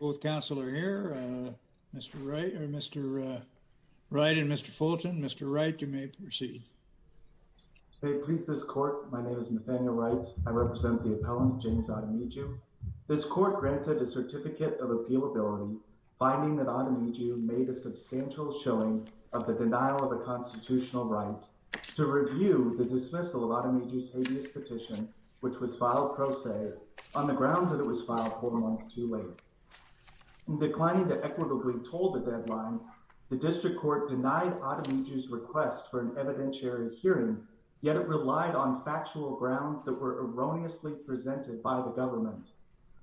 Both counsel are here, Mr. Wright and Mr. Fulton. Mr. Wright, you may proceed. May it please this court, my name is Nathaniel Wright. I represent the appellant, James Ademiju. This court granted a certificate of appealability, finding that Ademiju made a substantial showing of the denial of a constitutional right to review the dismissal of Ademiju's habeas petition, which was filed pro se on the grounds that it was filed four months too late. In declining to equitably toll the deadline, the district court denied Ademiju's request for an evidentiary hearing, yet it relied on factual grounds that were erroneously presented by the government.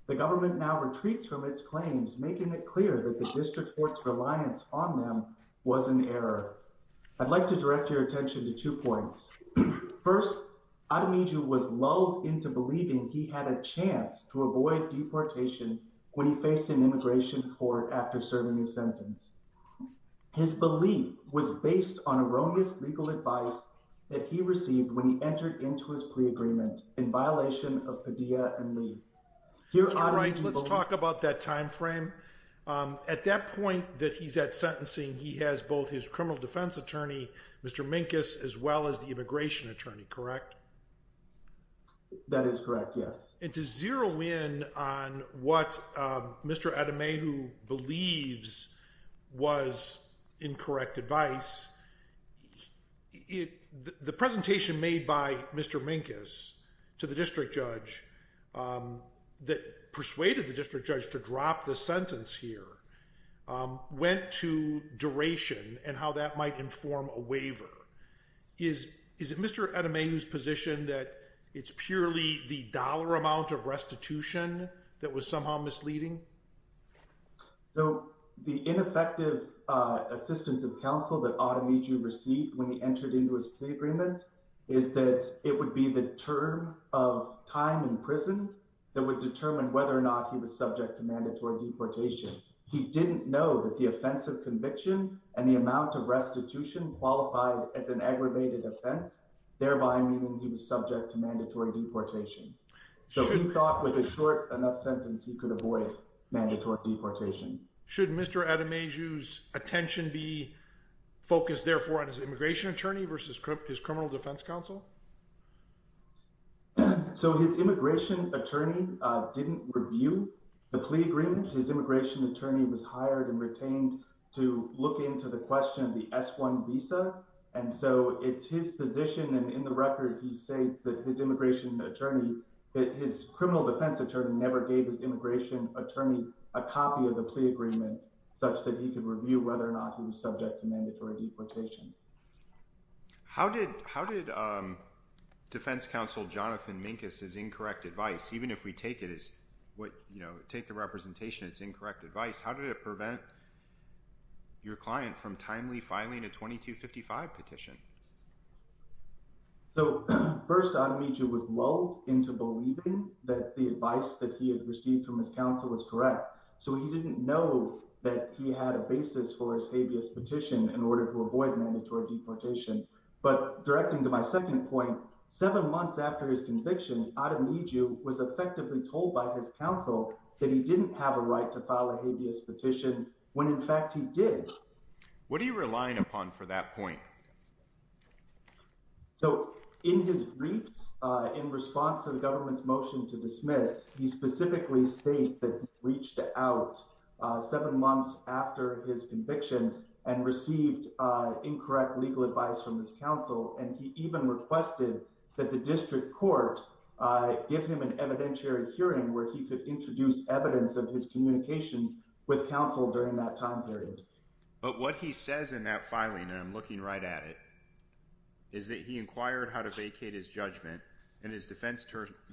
The government now retreats from its claims, making it clear that the district court's reliance on them was an error. I'd like to direct your attention to two points. First, Ademiju was lulled into believing he had a chance to avoid deportation when he faced an immigration court after serving his sentence. His belief was based on erroneous legal advice that he received when he entered into his plea agreement in violation of Padilla and Lee. All right, let's talk about that time frame. At that point that he's at sentencing, he has both his criminal defense attorney, Mr. Minkus, as well as the immigration attorney, correct? That is correct, yes. And to zero in on what Mr. Ademiju believes was incorrect advice, the presentation made by Mr. Minkus to the district judge that persuaded the district judge to drop the sentence here went to duration and how that might inform a waiver. Is it Mr. Ademiju's position that it's purely the dollar amount of restitution that was somehow misleading? So the ineffective assistance of counsel that Ademiju received when he entered into his plea agreement is that it would be the term of time in prison that would determine whether or not he was subject to mandatory deportation. He didn't know that the offensive conviction and the amount of restitution qualified as an aggravated offense, thereby meaning he was subject to mandatory deportation. So he thought with a short enough sentence, he could avoid mandatory deportation. Should Mr. Ademiju's attention be focused, therefore, on his immigration attorney versus his criminal defense counsel? So his immigration attorney didn't review the plea agreement. His immigration attorney was hired and retained to look into the question of the S-1 visa. And so it's his position. And in the record, he states that his immigration attorney, that his criminal defense attorney never gave his immigration attorney a copy of the plea agreement such that he could review whether or not he was subject to mandatory deportation. How did defense counsel Jonathan Minkus' incorrect advice, even if we take it as what, you know, take the representation as incorrect advice, how did it prevent your client from timely filing a 2255 petition? So first, Ademiju was lulled into believing that the advice that he had received from his counsel was correct. So he didn't know that he had a basis for his habeas petition in order to avoid mandatory deportation. But directing to my second point, seven months after his conviction, Ademiju was effectively told by his counsel that he didn't have a right to file a habeas petition when, in fact, he did. What are you relying upon for that point? So in his briefs, in response to the government's motion to dismiss, he specifically states that he reached out seven months after his conviction and received incorrect legal advice from his counsel. And he even requested that the district court give him an evidentiary hearing where he could introduce evidence of his communications with counsel during that time period. But what he says in that filing, and I'm looking right at it, is that he inquired how to vacate his judgment, and his defense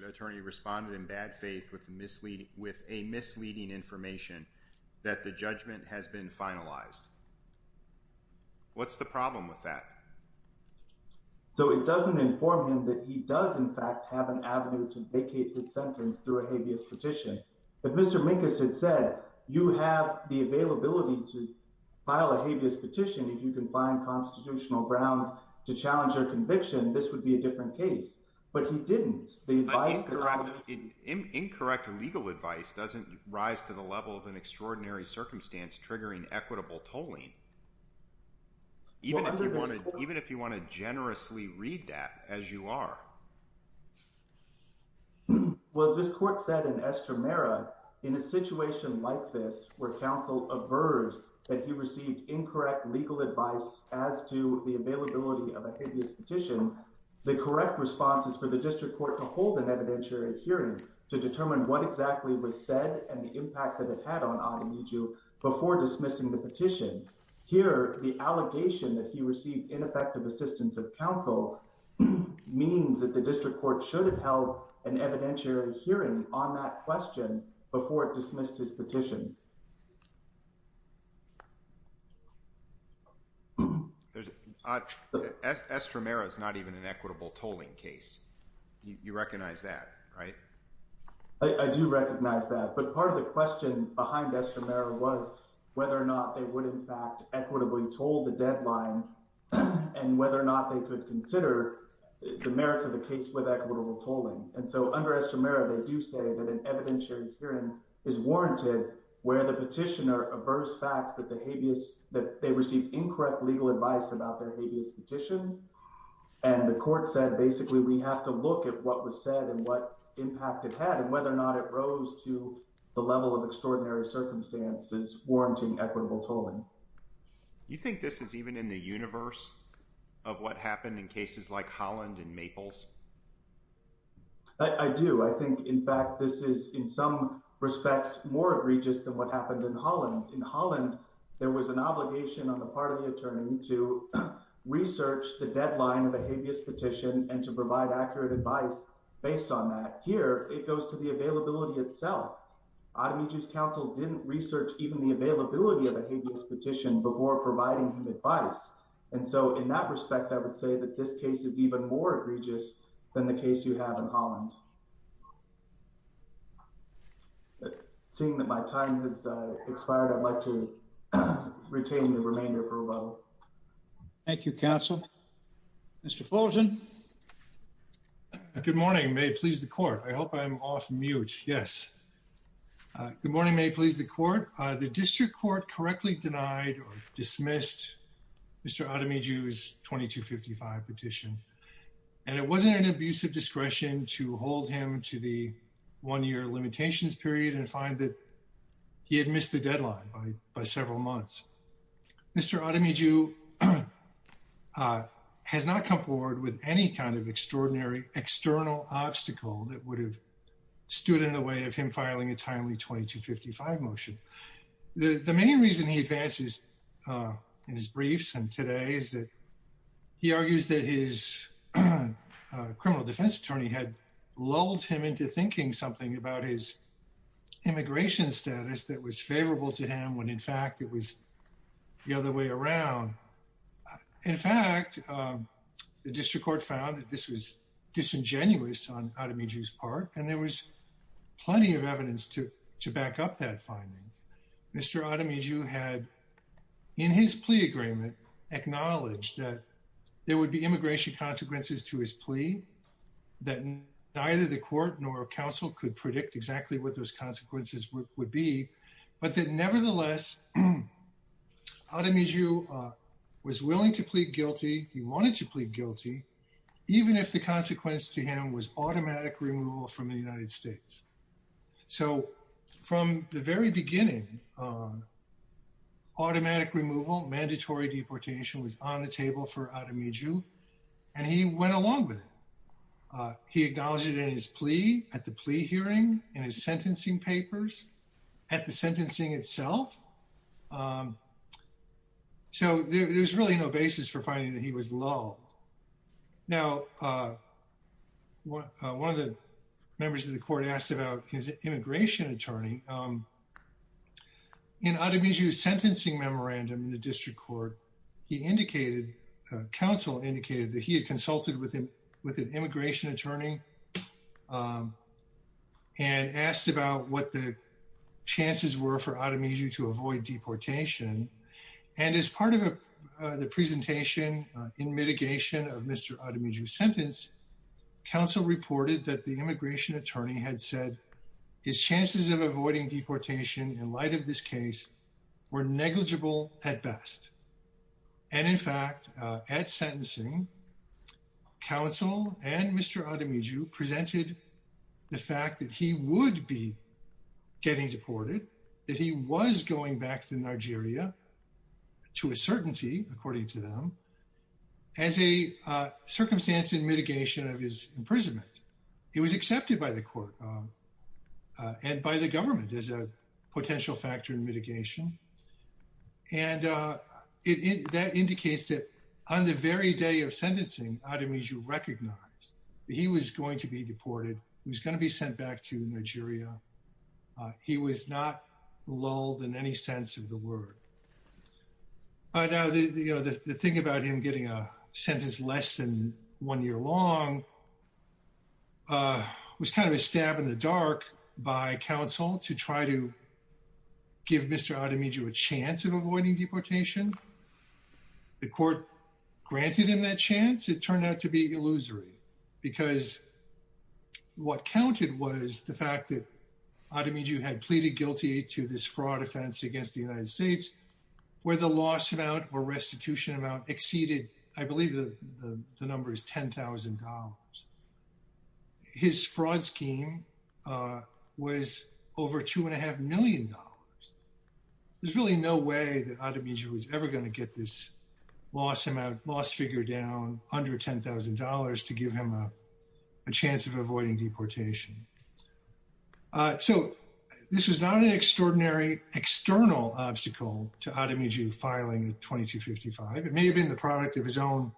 attorney responded in bad faith with a misleading information that the judgment has been finalized. What's the problem with that? So it doesn't inform him that he does, in fact, have an avenue to vacate his sentence through a habeas petition. If Mr. Minkus had said, you have the availability to file a habeas petition if you can find constitutional grounds to challenge your conviction, this would be a different case. But he didn't. Incorrect legal advice doesn't rise to the level of an extraordinary circumstance triggering equitable tolling, even if you want to generously read that as you are. to determine what exactly was said and the impact that it had on Ademiju before dismissing the petition. Here, the allegation that he received ineffective assistance of counsel means that the district court should have held an evidentiary hearing on that question before it dismissed his petition. Estramera is not even an equitable tolling case. You recognize that, right? I do recognize that, but part of the question behind Estramera was whether or not they would, in fact, equitably toll the deadline and whether or not they could consider the merits of the case with equitable tolling. And so under Estramera, they do say that an evidentiary hearing is warranted where the petitioner averts facts that they received incorrect legal advice about their habeas petition. And the court said, basically, we have to look at what was said and what impact it had and whether or not it rose to the level of extraordinary circumstances warranting equitable tolling. You think this is even in the universe of what happened in cases like Holland and Maples? I do. I think, in fact, this is, in some respects, more egregious than what happened in Holland. In Holland, there was an obligation on the part of the attorney to research the deadline of a habeas petition and to provide accurate advice based on that. Here, it goes to the availability itself. Ademiju's counsel didn't research even the availability of a habeas petition before providing him advice. And so in that respect, I would say that this case is even more egregious than the case you have in Holland. Seeing that my time has expired, I'd like to retain the remainder for a while. Thank you, counsel. Mr. Fulgen? Good morning. May it please the court? I hope I'm off mute. Yes. Good morning. May it please the court? Thank you, Mr. Fulgen. The district court correctly denied or dismissed Mr. Ademiju's 2255 petition. And it wasn't an abuse of discretion to hold him to the one-year limitations period and find that he had missed the deadline by several months. Mr. Ademiju has not come forward with any kind of extraordinary external obstacle that would have stood in the way of him filing a timely 2255 motion. The main reason he advances in his briefs and today is that he argues that his criminal defense attorney had lulled him into thinking something about his immigration status that was favorable to him when in fact it was the other way around. In fact, the district court found that this was disingenuous on Ademiju's part, and there was plenty of evidence to back up that finding. Mr. Ademiju had, in his plea agreement, acknowledged that there would be immigration consequences to his plea, that neither the court nor counsel could predict exactly what those consequences would be, but that nevertheless, Ademiju was willing to plead guilty. He wanted to plead guilty, even if the consequence to him was automatic removal from the United States. So from the very beginning, automatic removal, mandatory deportation was on the table for Ademiju, and he went along with it. He acknowledged it in his plea, at the plea hearing, in his sentencing papers, at the sentencing itself. So there's really no basis for finding that he was lulled. Now, one of the members of the court asked about his immigration attorney. In Ademiju's sentencing memorandum in the district court, he indicated, counsel indicated, that he had consulted with an immigration attorney and asked about what the chances were for Ademiju to avoid deportation. And as part of the presentation in mitigation of Mr. Ademiju's sentence, counsel reported that the immigration attorney had said his chances of avoiding deportation in light of this case were negligible at best. And in fact, at sentencing, counsel and Mr. Ademiju presented the fact that he would be getting deported, that he was going back to Nigeria, to a certainty, according to them, as a circumstance in mitigation of his imprisonment. It was accepted by the court and by the government as a potential factor in mitigation. And that indicates that on the very day of sentencing, Ademiju recognized that he was going to be deported, he was going to be sent back to Nigeria. He was not lulled in any sense of the word. Now, the thing about him getting a sentence less than one year long was kind of a stab in the dark by counsel to try to give Mr. Ademiju a chance of avoiding deportation. The court granted him that chance. It turned out to be illusory, because what counted was the fact that Ademiju had pleaded guilty to this fraud offense against the United States, where the loss amount or restitution amount exceeded, I believe the number is $10,000. His fraud scheme was over $2.5 million. There's really no way that Ademiju was ever going to get this loss figure down under $10,000 to give him a chance of avoiding deportation. So this was not an extraordinary external obstacle to Ademiju filing 2255. It may have been the product of his own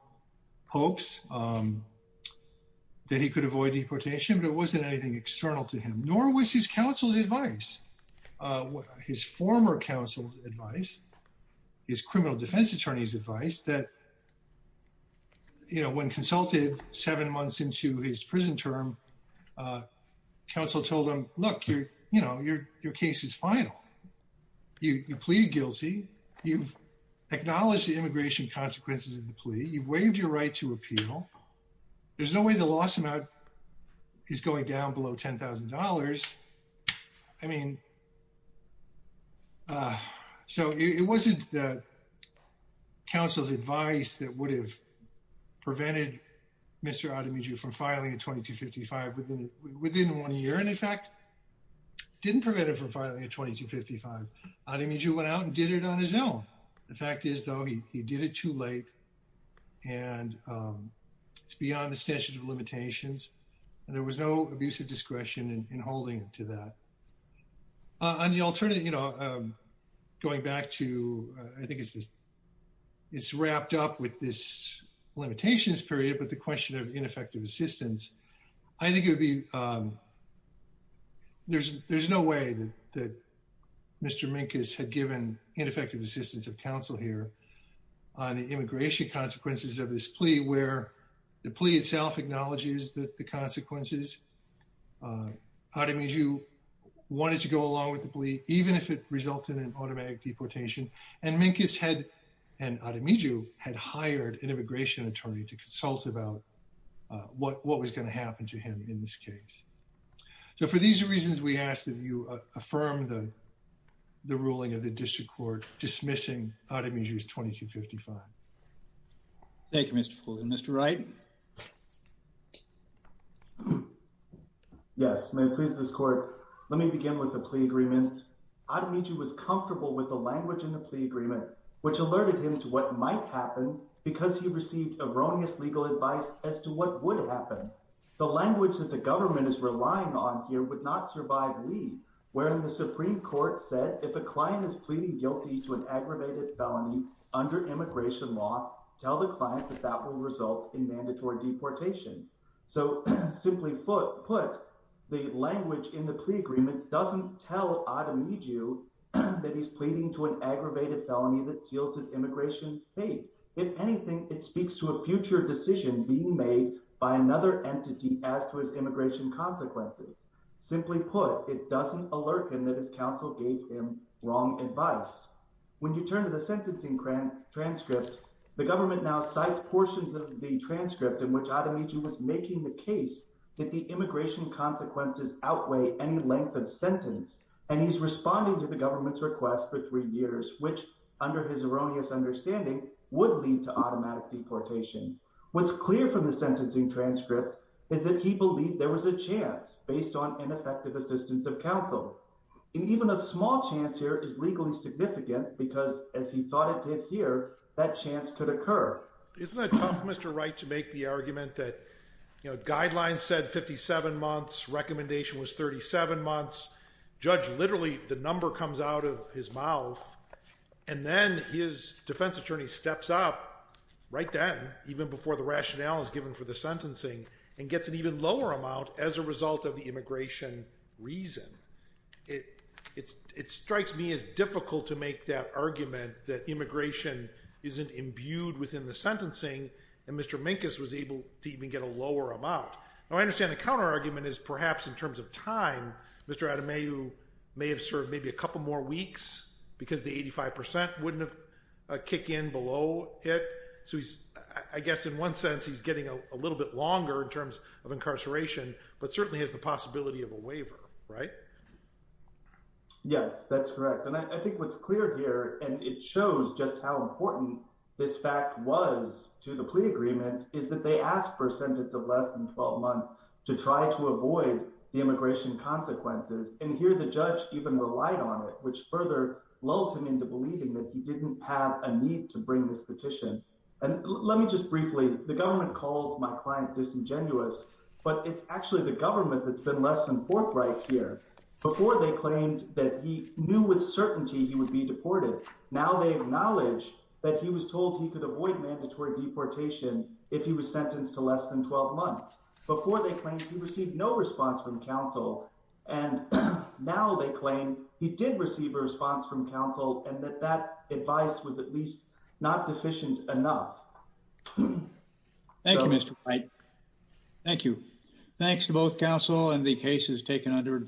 hopes that he could avoid deportation, but it wasn't anything external to him, nor was his counsel's advice. His former counsel's advice, his criminal defense attorney's advice, that when consulted seven months into his prison term, counsel told him, look, your case is final. You plead guilty. You've acknowledged the immigration consequences of the plea. You've waived your right to appeal. There's no way the loss amount is going down below $10,000. I mean, so it wasn't that counsel's advice that would have prevented Mr. Ademiju from filing a 2255 within one year, and in fact, didn't prevent him from filing a 2255. Ademiju went out and did it on his own. The fact is, though, he did it too late, and it's beyond the statute of limitations, and there was no abuse of discretion in holding him to that. On the alternative, you know, going back to, I think it's wrapped up with this limitations period, but the question of ineffective assistance, I think it would be, there's no way that Mr. Minkus had given ineffective assistance of counsel here on the immigration consequences of this plea, where the plea itself acknowledges the consequences. Ademiju wanted to go along with the plea, even if it resulted in automatic deportation, and Minkus had, and Ademiju had hired an immigration attorney to consult about what was going to happen to him in this case. So for these reasons, we ask that you affirm the ruling of the district court dismissing Ademiju's 2255. Thank you, Mr. Fuller. Mr. Wright? Yes, may it please this court, let me begin with the plea agreement. Ademiju was comfortable with the language in the plea agreement, which alerted him to what might happen because he received erroneous legal advice as to what would happen. The language that the government is relying on here would not survive leave, wherein the Supreme Court said if a client is pleading guilty to an aggravated felony under immigration law, tell the client that that will result in mandatory deportation. So, simply put, the language in the plea agreement doesn't tell Ademiju that he's pleading to an aggravated felony that seals his immigration fate. If anything, it speaks to a future decision being made by another entity as to his immigration consequences. Simply put, it doesn't alert him that his counsel gave him wrong advice. When you turn to the sentencing transcript, the government now cites portions of the transcript in which Ademiju was making the case that the immigration consequences outweigh any length of sentence. And he's responding to the government's request for three years, which, under his erroneous understanding, would lead to automatic deportation. What's clear from the sentencing transcript is that he believed there was a chance based on ineffective assistance of counsel. And even a small chance here is legally significant because, as he thought it did here, that chance could occur. Isn't it tough, Mr. Wright, to make the argument that guidelines said 57 months, recommendation was 37 months, judge literally the number comes out of his mouth, and then his defense attorney steps up right then, even before the rationale is given for the sentencing, and gets an even lower amount as a result of the immigration reason. It strikes me as difficult to make that argument that immigration isn't imbued within the sentencing, and Mr. Minkus was able to even get a lower amount. Now I understand the counterargument is perhaps in terms of time, Mr. Ademiju may have served maybe a couple more weeks because the 85% wouldn't have kicked in below it. So I guess in one sense he's getting a little bit longer in terms of incarceration, but certainly has the possibility of a waiver, right? Yes, that's correct. And I think what's clear here, and it shows just how important this fact was to the plea agreement, is that they asked for a sentence of less than 12 months to try to avoid the immigration consequences. And here the judge even relied on it, which further lulled him into believing that he didn't have a need to bring this petition. And let me just briefly, the government calls my client disingenuous, but it's actually the government that's been less than forthright here. Before they claimed that he knew with certainty he would be deported. Now they acknowledge that he was told he could avoid mandatory deportation if he was sentenced to less than 12 months. Before they claimed he received no response from counsel, and now they claim he did receive a response from counsel and that that advice was at least not deficient enough. Thank you, Mr. White. Thank you. Thanks to both counsel and the cases taken under advice.